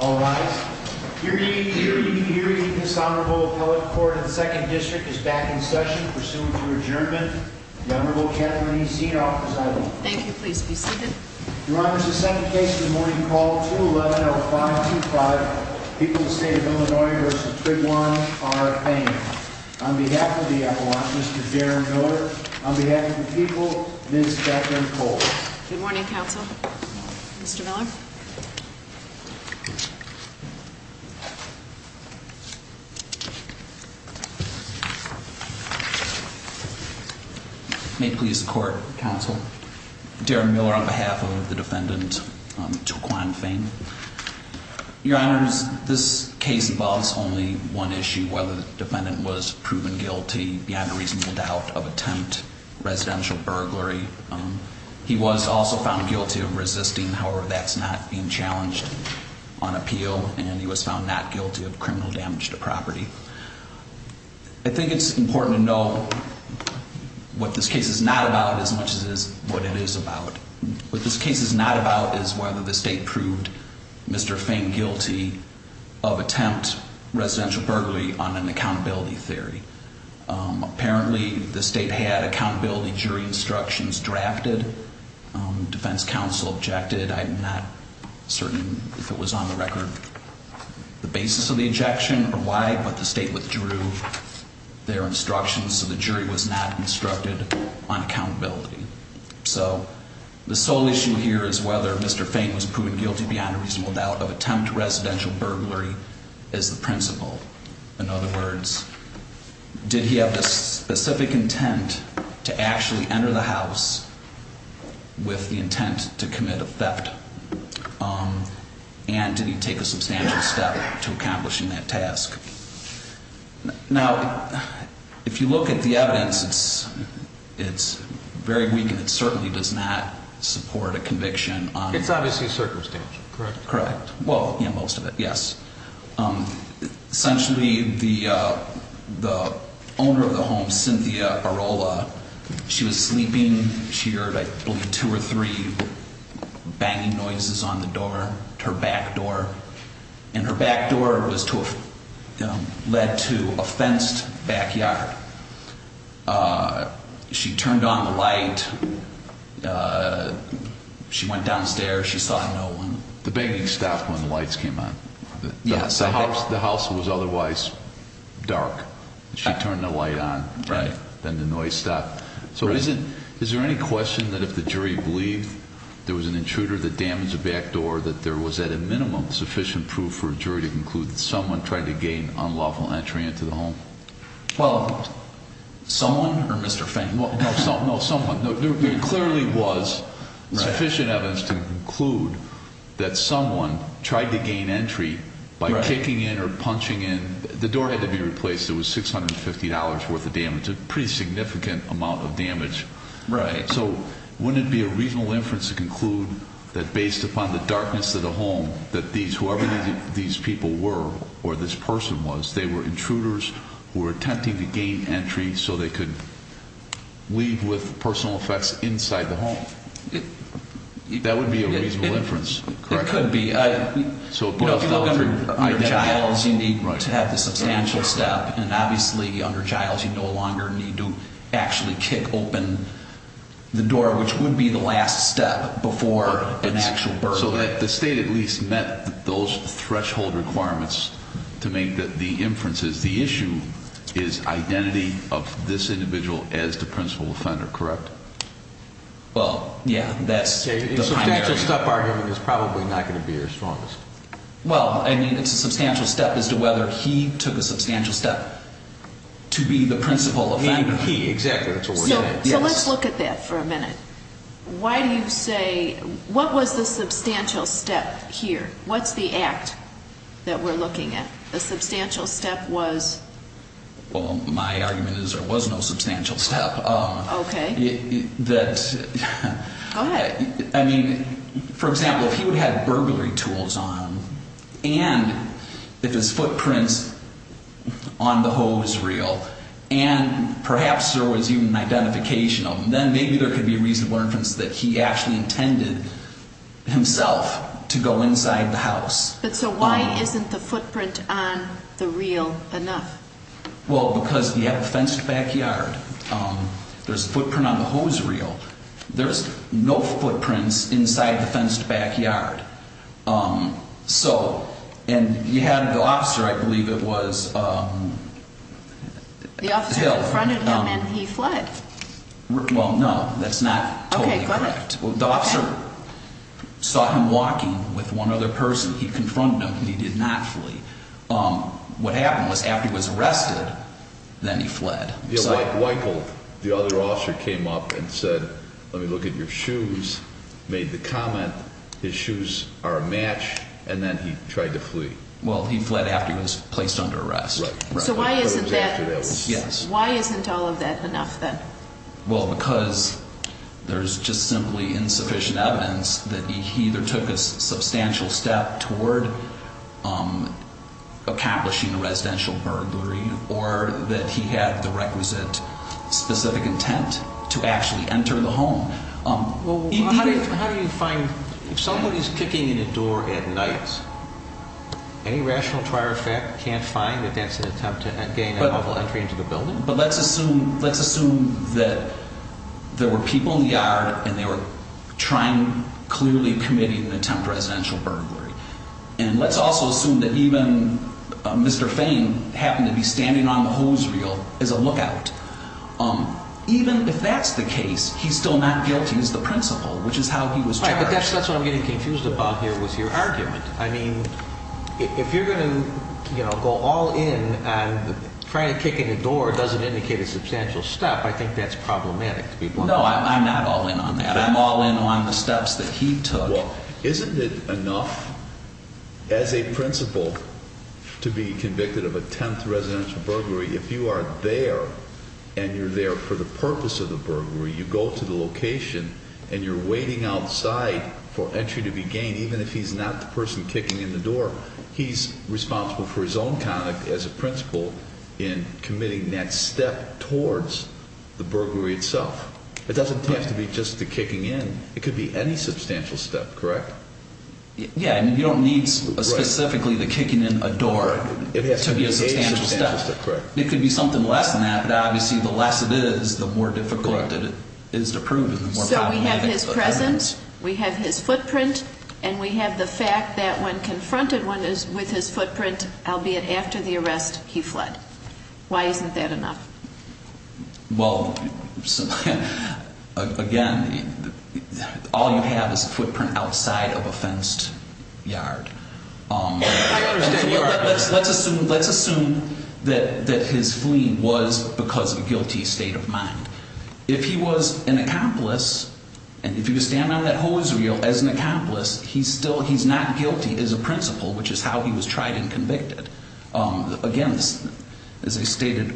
All right, you're you're you're you're you're dishonorable appellate court of the Second District is back in session. Pursuant to adjournment, the Honorable Kathleen Zinoff. Thank you. Please be seated. Your honor is the second case in the morning call to 11 or 5 to 5. People in the state of Illinois versus Trayvon are paying on behalf of the watch. Mr Darren Miller on behalf of the defendant. May please the court counsel Darren Miller on behalf of the defendant to climb fame. Your honors. This case involves only one issue. Whether the defendant was proven guilty behind a reasonable doubt of attempt residential burglary. He was also found guilty of resisting. However, that's not being on appeal and he was found not guilty of criminal damage to property. I think it's important to know what this case is not about as much as what it is about. What this case is not about is whether the state proved Mr Fane guilty of attempt residential burglary on an accountability theory. Apparently the state had accountability jury instructions drafted. Defense counsel objected. I'm not certain if it was on the record the basis of the ejection or why, but the state withdrew their instructions. So the jury was not instructed on accountability. So the sole issue here is whether Mr Fane was proven guilty beyond a reasonable doubt of attempt. Residential burglary is the principle. In other words, did he have the specific intent to actually enter the house with the intent to commit a theft? Um, and did he take a substantial step to accomplishing that task? Now, if you look at the evidence, it's it's very weak and it certainly does not support a conviction. It's obviously a circumstance, correct? Correct. Well, in most of it, yes. Um, essentially, the, uh, the owner of the home, Cynthia Barola, she was sleeping. She heard, I believe, two or three banging noises on the door to her back door, and her back door was to, um, led to a fenced backyard. Uh, she turned on the light. Uh, she went downstairs. She saw no one. The banging stopped when the lights came on. The house was otherwise dark. She then the noise stopped. So is it? Is there any question that if the jury believed there was an intruder that damaged the back door, that there was at a minimum sufficient proof for a jury to conclude that someone tried to gain unlawful entry into the home? Well, someone or Mr Fane? No, no, no, no, someone clearly was sufficient evidence to conclude that someone tried to gain entry by kicking in or punching in. The door had to be replaced. It was $650 worth of damage, a pretty significant amount of damage. Right? So wouldn't it be a reasonable inference to conclude that based upon the darkness of the home that these whoever these people were or this person was, they were intruders who were attempting to gain entry so they could leave with personal effects inside the home. That would be a reasonable inference. It could be. So if you look under child, you need to have the substantial step. And obviously under child, you no longer need to actually kick open the door, which would be the last step before an actual birth. So that the state at least met those threshold requirements to make the inferences. The issue is identity of this individual as the principal offender, correct? Well, yeah, that's a substantial step. Arguing is probably not going to be your strongest. Well, I mean, it's a substantial step as to whether he took a substantial step to be the principal offender. He exactly. So let's look at that for a minute. Why do you say what was the substantial step here? What's the act that we're looking at? The substantial step was? Well, my argument is there was no substantial step. Okay, that I mean, for example, if he would on the hose reel and perhaps there was even identification of them, then maybe there could be a reasonable inference that he actually intended himself to go inside the house. But so why isn't the footprint on the real enough? Well, because you have a fenced backyard. Um, there's a footprint on the hose reel. There's no footprints inside the fenced backyard. Um, so and you had the officer. I believe it was, um, the front of him and he fled. Well, no, that's not. Okay, the officer saw him walking with one other person. He confronted him. He did not flee. Um, what happened was after he was arrested, then he fled. Michael, the other officer came up and said, Let me look at your shoes. Made the comment. His shoes are a match. And then he tried to flee. Well, he fled after he was placed under arrest. So why isn't that? Yes. Why isn't all of that enough then? Well, because there's just simply insufficient evidence that he either took a substantial step toward, um, accomplishing a residential burglary or that he had the requisite specific intent to actually enter the home. Um, how do you find if somebody's kicking in a door at night? Any rational prior effect can't find that that's an attempt to gain a level entry into the building. But let's assume let's assume that there were people in the yard and they were trying clearly committing an attempt residential burglary. And let's also assume that even Mr Fane happened to be standing on the hose reel is a lookout. Um, even if that's the case, he's still not guilty as the principal, which is how he was. That's what I'm getting confused about here was your argument. I mean, if you're gonna, you know, go all in and try to kick in the door doesn't indicate a substantial step. I think that's problematic. No, I'm not all in on that. I'm all in on the steps that he took. Isn't it enough as a principal to be convicted of a 10th residential burglary? If you are there and you're there for the purpose of the to begin, even if he's not the person kicking in the door, he's responsible for his own conduct as a principal in committing that step towards the burglary itself. It doesn't have to be just the kicking in. It could be any substantial step, correct? Yeah, I mean, you don't need specifically the kicking in a door. It has to be a substantial step. It could be something less than that. But obviously, the less it is, the more difficult it is to present. We have his footprint, and we have the fact that when confronted one is with his footprint, albeit after the arrest, he fled. Why isn't that enough? Well, again, all you have is a footprint outside of a fenced yard. Let's assume, let's assume that that his fleeing was because of a guilty state of mind. If he was an accomplice, and if you stand on that hose reel as an accomplice, he's still, he's not guilty as a principal, which is how he was tried and convicted. Again, as I stated...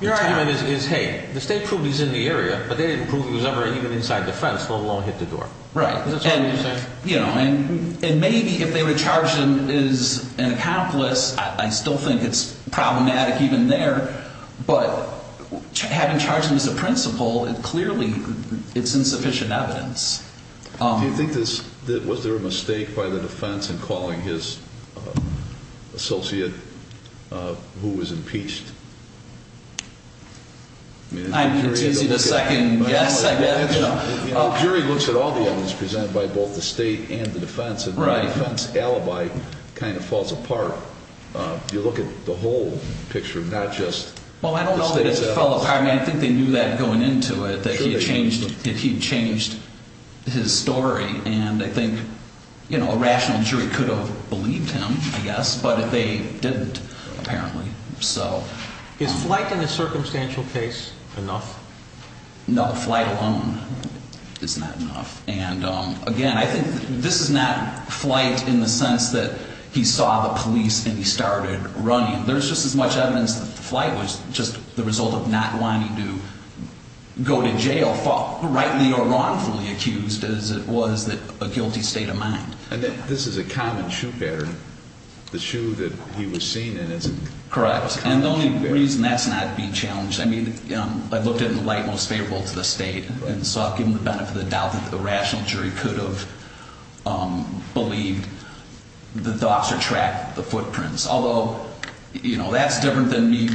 Your argument is, hey, the state proved he's in the area, but they didn't prove he was ever even inside the fence, let alone hit the door. Right. Is that what you're saying? You know, and maybe if they would have charged him as an accomplice, I still think it's problematic even there, but having charged him as a principal, it clearly, it's insufficient evidence. Do you think this, was there a mistake by the defense in calling his associate who was impeached? I'm confusing the second guess, I guess. The jury looks at all the evidence presented by both the state and the defense, and the defense alibi kind of falls apart. You look at the whole picture, not just... Well, I don't know that it fell apart. I mean, I think they knew that going into it, that he had changed, that he had changed his story, and I think, you know, a rational jury could have believed him, I guess, but they didn't, apparently, so... Is flight in a circumstantial case enough? No, flight alone is not enough, and again, I think this is not flight in the sense that he saw the police and he started running. There's just as much evidence that the flight was just the result of not wanting to go to jail, rightly or wrongfully accused, as it was a guilty state of mind. And this is a common shoe pattern. The shoe that he was seen in isn't... Correct, and the only reason that's not being challenged, I mean, I looked at it in the light most favorable to the state, and so I've given the benefit of the doubt that the rational jury could have believed that the officer did not track the footprints, although, you know, that's different than me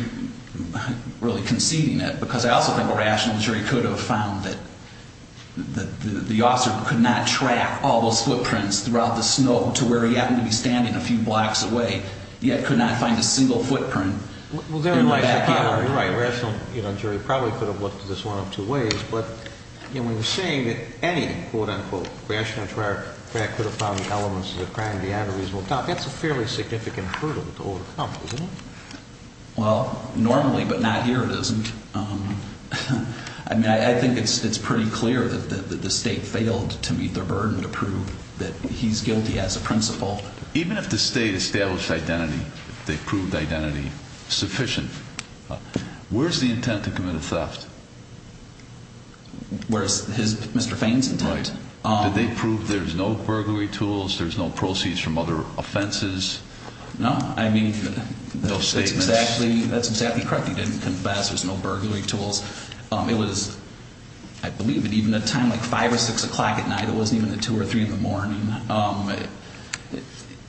really conceding it, because I also think a rational jury could have found that the officer could not track all those footprints throughout the snow to where he happened to be standing a few blocks away, yet could not find a single footprint in the backyard. You're right, a rational jury probably could have looked at this one of two ways, but, you know, when you're saying that any, quote-unquote, rational juror could have found the elements of the crime beyond a reasonable doubt, that's a fairly significant hurdle to overcome, isn't it? Well, normally, but not here it isn't. I mean, I think it's pretty clear that the state failed to meet their burden to prove that he's guilty as a principal. Even if the state established identity, they proved identity sufficient, where's the intent to commit a theft? Where's Mr. Fain's intent? Right. Did they prove there's no burglary tools, there's no proceeds from other offenses? No, I mean, that's exactly correct, he didn't confess, there's no burglary tools. It was, I believe, at even a time like 5 or 6 o'clock at night, it wasn't even until 2 or 3 in the morning.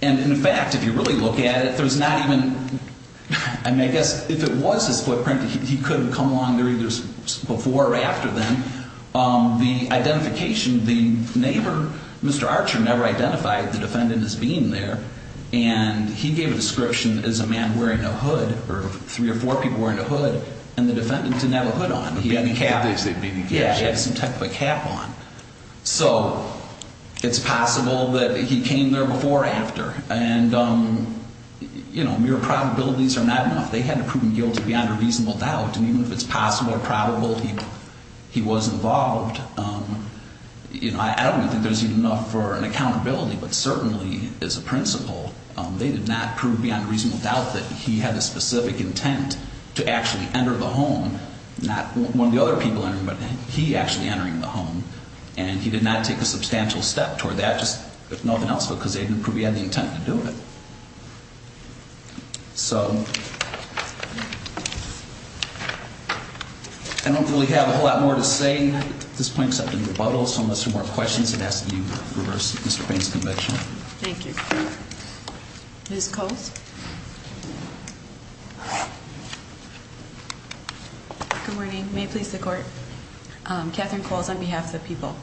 And, in fact, if you really look at it, there's not even, I mean, I guess if it was his footprint, he could have come along there either before or after then. The identification, the neighbor, Mr. Archer, never identified the defendant as being there, and he gave a description as a man wearing a hood, or three or four people wearing a hood, and the defendant didn't have a hood on. He had a cap. He said he had a cap. Yeah, he had some type of a cap on. So, it's possible that he came there before or after, and, you know, mere probabilities are not enough. They had to prove him guilty beyond a reasonable doubt, and even if it's possible or probable he was involved, you know, I don't think there's even enough for an accountability. But certainly, as a principal, they did not prove beyond a reasonable doubt that he had a specific intent to actually enter the home, not one of the other people entering, but he actually entering the home. And he did not take a substantial step toward that, just if nothing else, because they didn't prove he had the intent to do it. So, I don't really have a whole lot more to say at this point except to rebuttal, so unless there are more questions, I'd ask that you reverse Mr. Payne's conviction. Thank you. Ms. Coles? Good morning. May it please the Court? Catherine Coles on behalf of the people.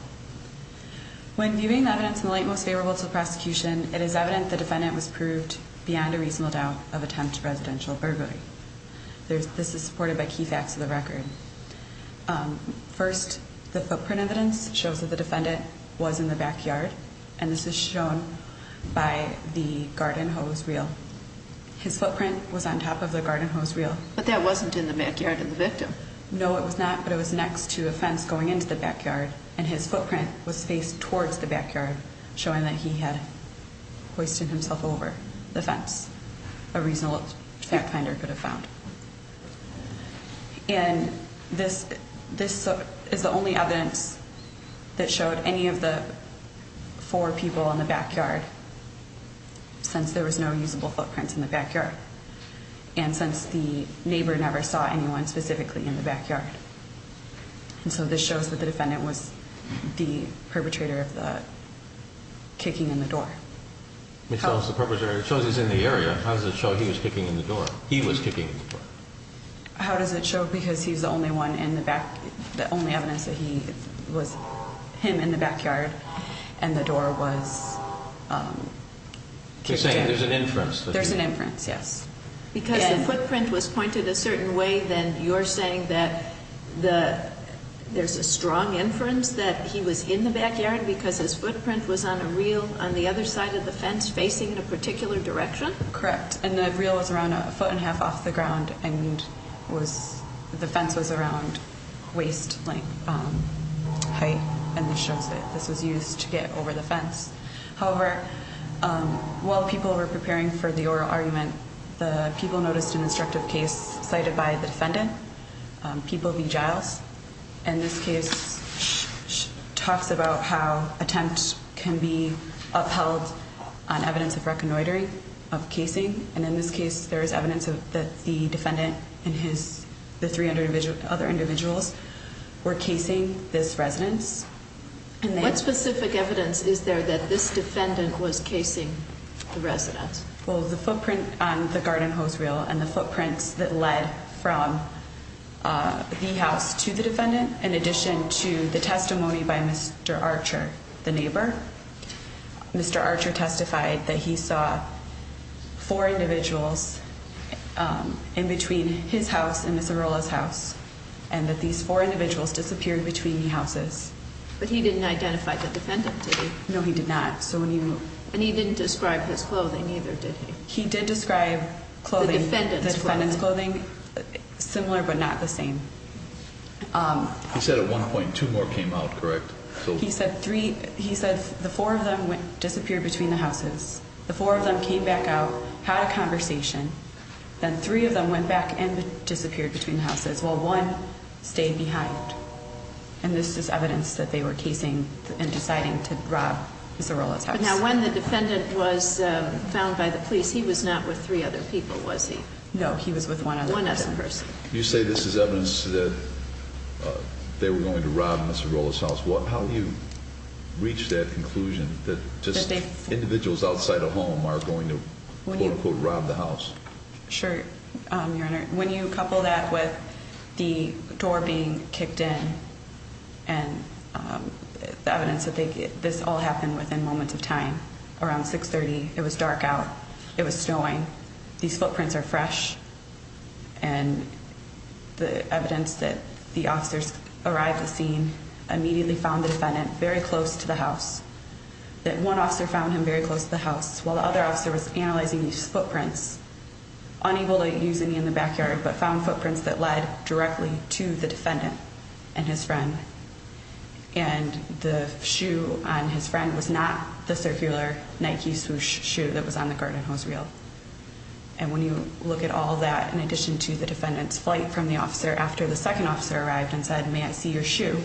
When viewing the evidence in the light most favorable to the prosecution, it is evident the defendant was proved beyond a reasonable doubt of attempt to residential burglary. This is supported by key facts of the record. First, the footprint evidence shows that the defendant was in the backyard, and this is shown by the garden hose reel. His footprint was on top of the garden hose reel. But that wasn't in the backyard of the victim. No, it was not, but it was next to a fence going into the backyard, and his footprint was faced towards the backyard, showing that he had hoisted himself over the fence, a reasonable fact finder could have found. And this is the only evidence that showed any of the four people in the backyard, since there was no usable footprints in the backyard. And since the neighbor never saw anyone specifically in the backyard. And so this shows that the defendant was the perpetrator of the kicking in the door. It shows he's in the area. How does it show he was kicking in the door? He was kicking in the door. How does it show? Because he's the only one in the back, the only evidence that he was, him in the backyard, and the door was kicked in. There's an inference. There's an inference, yes. Because the footprint was pointed a certain way, then you're saying that there's a strong inference that he was in the backyard because his footprint was on a reel on the other side of the fence facing in a particular direction? Correct, and the reel was around a foot and a half off the ground, and the fence was around waist-length height, and this shows that this was used to get over the fence. However, while people were preparing for the oral argument, the people noticed an instructive case cited by the defendant, People v. Giles, and this case talks about how attempts can be upheld on evidence of reconnoitering, of casing. And in this case, there is evidence that the defendant and the 300 other individuals were casing this residence. What specific evidence is there that this defendant was casing the residence? Well, the footprint on the garden hose reel and the footprints that led from the house to the defendant, in addition to the testimony by Mr. Archer, the neighbor. Mr. Archer testified that he saw four individuals in between his house and Ms. Arrola's house, and that these four individuals disappeared between the houses. But he didn't identify the defendant, did he? No, he did not. And he didn't describe his clothing either, did he? He did describe the defendant's clothing similar but not the same. He said at one point two more came out, correct? He said the four of them disappeared between the houses. The four of them came back out, had a conversation. Then three of them went back and disappeared between the houses while one stayed behind. And this is evidence that they were casing and deciding to rob Ms. Arrola's house. Now, when the defendant was found by the police, he was not with three other people, was he? No, he was with one other person. You say this is evidence that they were going to rob Ms. Arrola's house. How do you reach that conclusion that just individuals outside a home are going to, quote, unquote, rob the house? Sure, Your Honor. When you couple that with the door being kicked in and the evidence that this all happened within moments of time, around 6.30, it was dark out. It was snowing. These footprints are fresh. And the evidence that the officers arrived at the scene immediately found the defendant very close to the house, that one officer found him very close to the house while the other officer was analyzing these footprints, unable to use any in the backyard but found footprints that led directly to the defendant and his friend. And the shoe on his friend was not the circular Nike swoosh shoe that was on the garden hose reel. And when you look at all that in addition to the defendant's flight from the officer after the second officer arrived and said, may I see your shoe,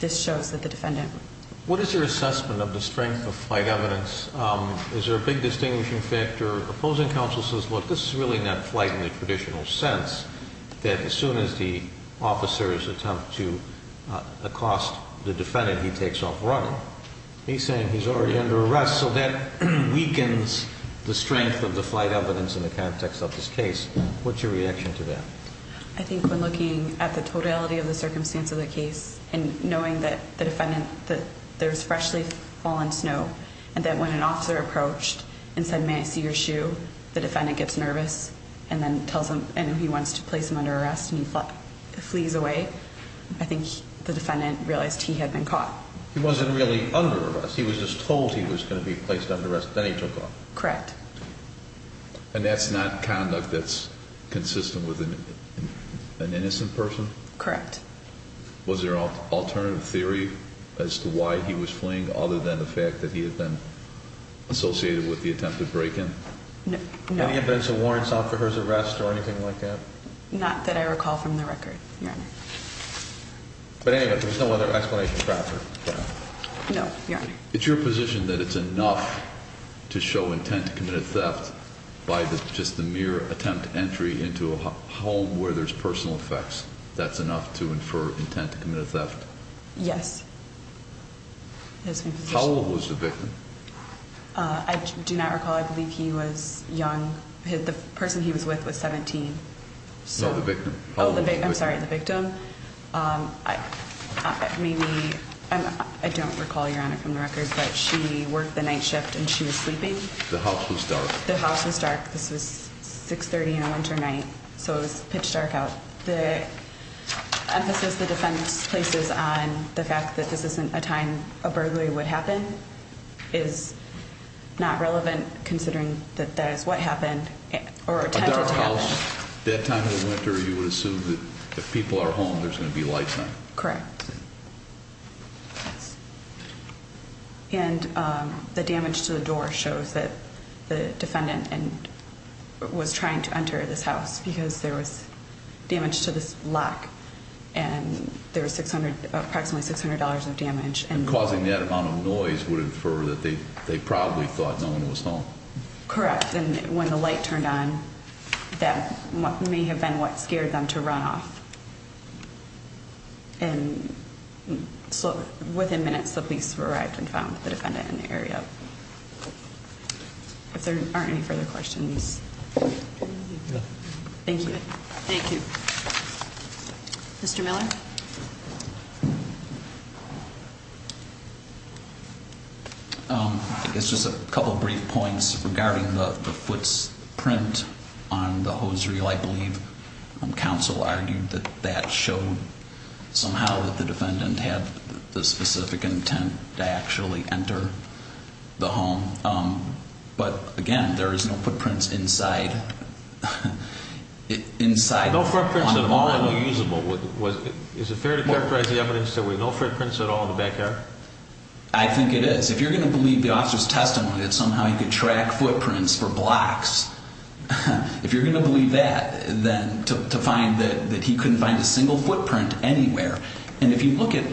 this shows that the defendant... What is your assessment of the strength of flight evidence? Is there a big distinguishing factor? The opposing counsel says, look, this is really not flight in the traditional sense, that as soon as the officers attempt to accost the defendant, he takes off running. He's saying he's already under arrest, so that weakens the strength of the flight evidence in the context of this case. What's your reaction to that? I think when looking at the totality of the circumstance of the case and knowing that the defendant, that there's freshly fallen snow and that when an officer approached and said, may I see your shoe, the defendant gets nervous and then tells him and he wants to place him under arrest and he flees away. I think the defendant realized he had been caught. He wasn't really under arrest. He was just told he was going to be placed under arrest, then he took off. Correct. And that's not conduct that's consistent with an innocent person? Correct. Was there an alternative theory as to why he was fleeing other than the fact that he had been associated with the attempted break-in? No. Any evidence of warrants off for his arrest or anything like that? Not that I recall from the record, Your Honor. But anyway, there's no other explanation for that? No, Your Honor. It's your position that it's enough to show intent to commit a theft by just the mere attempt to entry into a home where there's personal effects? That's enough to infer intent to commit a theft? Yes. How old was the victim? I do not recall. I believe he was young. The person he was with was 17. No, the victim. I'm sorry, the victim. I don't recall, Your Honor, from the record, but she worked the night shift and she was sleeping. The house was dark. This was 6.30 on a winter night, so it was pitch dark out. The emphasis the defendant places on the fact that this isn't a time a burglary would happen is not relevant, considering that that is what happened or attempted to happen. A dark house, that time of the winter, you would assume that if people are home, there's going to be lights on? Correct. And the damage to the door shows that the defendant was trying to enter this house because there was damage to this lock and there was approximately $600 of damage. And causing that amount of noise would infer that they probably thought no one was home? Correct, and when the light turned on, that may have been what scared them to run off. And so within minutes, the police arrived and found the defendant in the area. If there aren't any further questions. Thank you. Thank you. Mr. Miller? It's just a couple of brief points regarding the footprint on the hose reel. I believe counsel argued that that showed somehow that the defendant had the specific intent to actually enter the home. But again, there is no footprints inside. No footprints at all were usable. Is it fair to clarify? Can you characterize the evidence that there were no footprints at all in the backyard? I think it is. If you're going to believe the officer's testimony that somehow he could track footprints for blocks, if you're going to believe that, then to find that he couldn't find a single footprint anywhere. And if you look at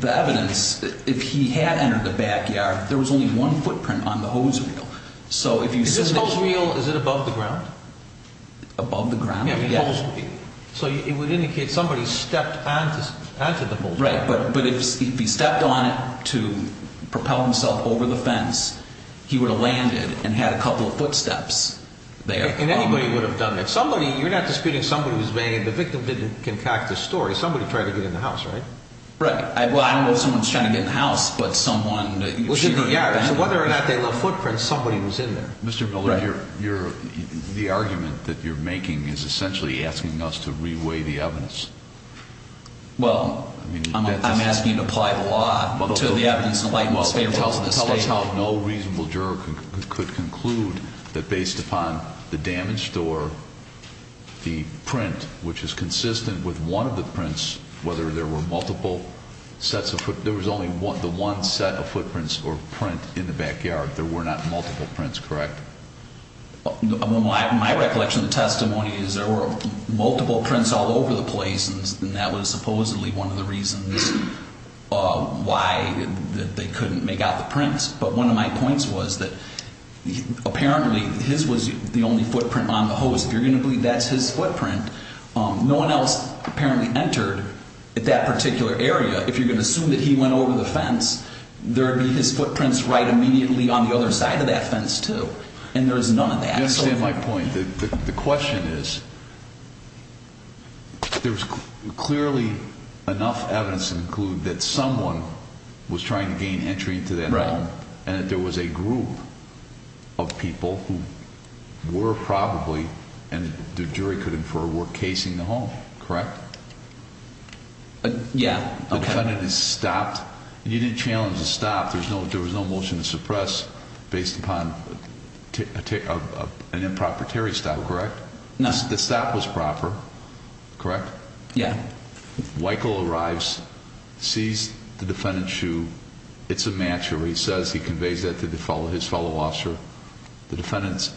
the evidence, if he had entered the backyard, there was only one footprint on the hose reel. Is this hose reel, is it above the ground? Above the ground? Yes. So it would indicate somebody stepped onto the hose reel. Right. But if he stepped on it to propel himself over the fence, he would have landed and had a couple of footsteps there. And anybody would have done that. Somebody, you're not disputing somebody who's made, the victim didn't concoct the story, somebody tried to get in the house, right? Right. Well, I don't know if someone's trying to get in the house, but someone... So whether or not they left footprints, somebody was in there. Mr. Miller, the argument that you're making is essentially asking us to re-weigh the evidence. Well, I'm asking you to apply the law to the evidence in light of the state rules. Tell us how no reasonable juror could conclude that based upon the damaged door, the print, which is consistent with one of the prints, whether there were multiple sets of footprints, there was only one set of footprints or print in the backyard. There were not multiple prints, correct? My recollection of the testimony is there were multiple prints all over the place, and that was supposedly one of the reasons why they couldn't make out the prints. But one of my points was that apparently his was the only footprint on the hose. If you're going to believe that's his footprint, no one else apparently entered that particular area. If you're going to assume that he went over the fence, there would be his footprints right immediately on the other side of that fence, too, and there's none of that. You understand my point. The question is there's clearly enough evidence to conclude that someone was trying to gain entry into that home and that there was a group of people who were probably, and the jury could infer, were casing the home, correct? Yeah. The defendant is stopped. You didn't challenge the stop. There was no motion to suppress based upon an improper Terry stop, correct? No. The stop was proper, correct? Yeah. Weichel arrives, sees the defendant's shoe. It's a match where he says he conveys that to his fellow officer. The defendant's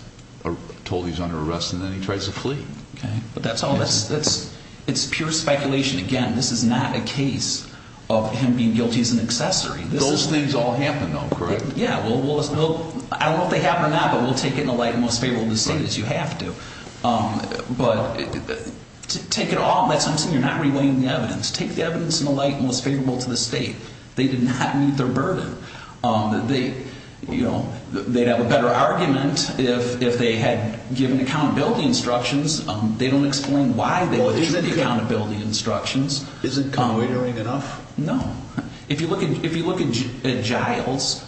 told he's under arrest, and then he tries to flee. But that's all. It's pure speculation. Again, this is not a case of him being guilty as an accessory. Those things all happen, though, correct? Yeah. I don't know if they happen or not, but we'll take it in the light and most favorable to the state as you have to. But take it all. I'm saying you're not relaying the evidence. Take the evidence in the light and most favorable to the state. They did not meet their burden. They'd have a better argument if they had given accountability instructions. They don't explain why they issued the accountability instructions. Isn't connoitering enough? No. If you look at Giles,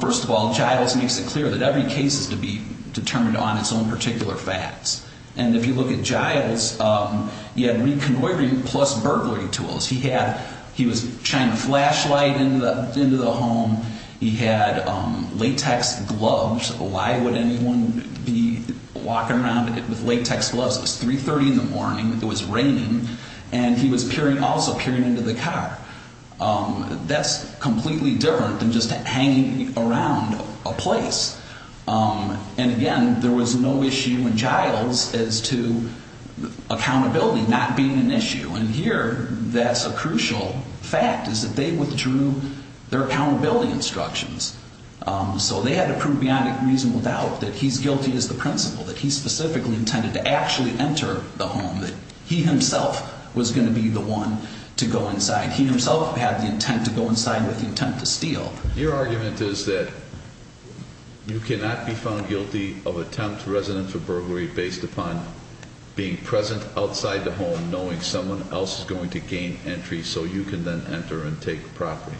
first of all, Giles makes it clear that every case is to be determined on its own particular facts. And if you look at Giles, he had reconnoitering plus burglary tools. He was trying to flashlight into the home. He had latex gloves. Why would anyone be walking around with latex gloves? It was 3.30 in the morning. It was raining. And he was also peering into the car. That's completely different than just hanging around a place. And, again, there was no issue in Giles as to accountability not being an issue. And here that's a crucial fact is that they withdrew their accountability instructions. So they had to prove beyond a reasonable doubt that he's guilty as the principal, that he specifically intended to actually enter the home, that he himself was going to be the one to go inside. He himself had the intent to go inside with the intent to steal. Your argument is that you cannot be found guilty of attempt to resident for burglary based upon being present outside the home, knowing someone else is going to gain entry so you can then enter and take property.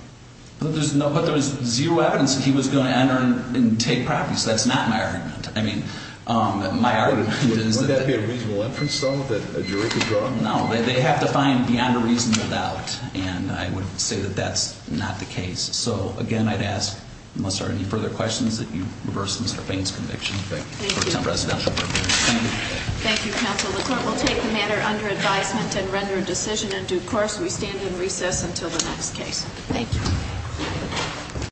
But there was zero evidence that he was going to enter and take property. So that's not my argument. I mean, my argument is that they have to find beyond a reasonable doubt. And I would say that that's not the case. So, again, I'd ask, unless there are any further questions, that you reverse Mr. Fain's conviction. Thank you. Thank you, counsel. The court will take the matter under advisement and render a decision in due course. We stand in recess until the next case. Thank you.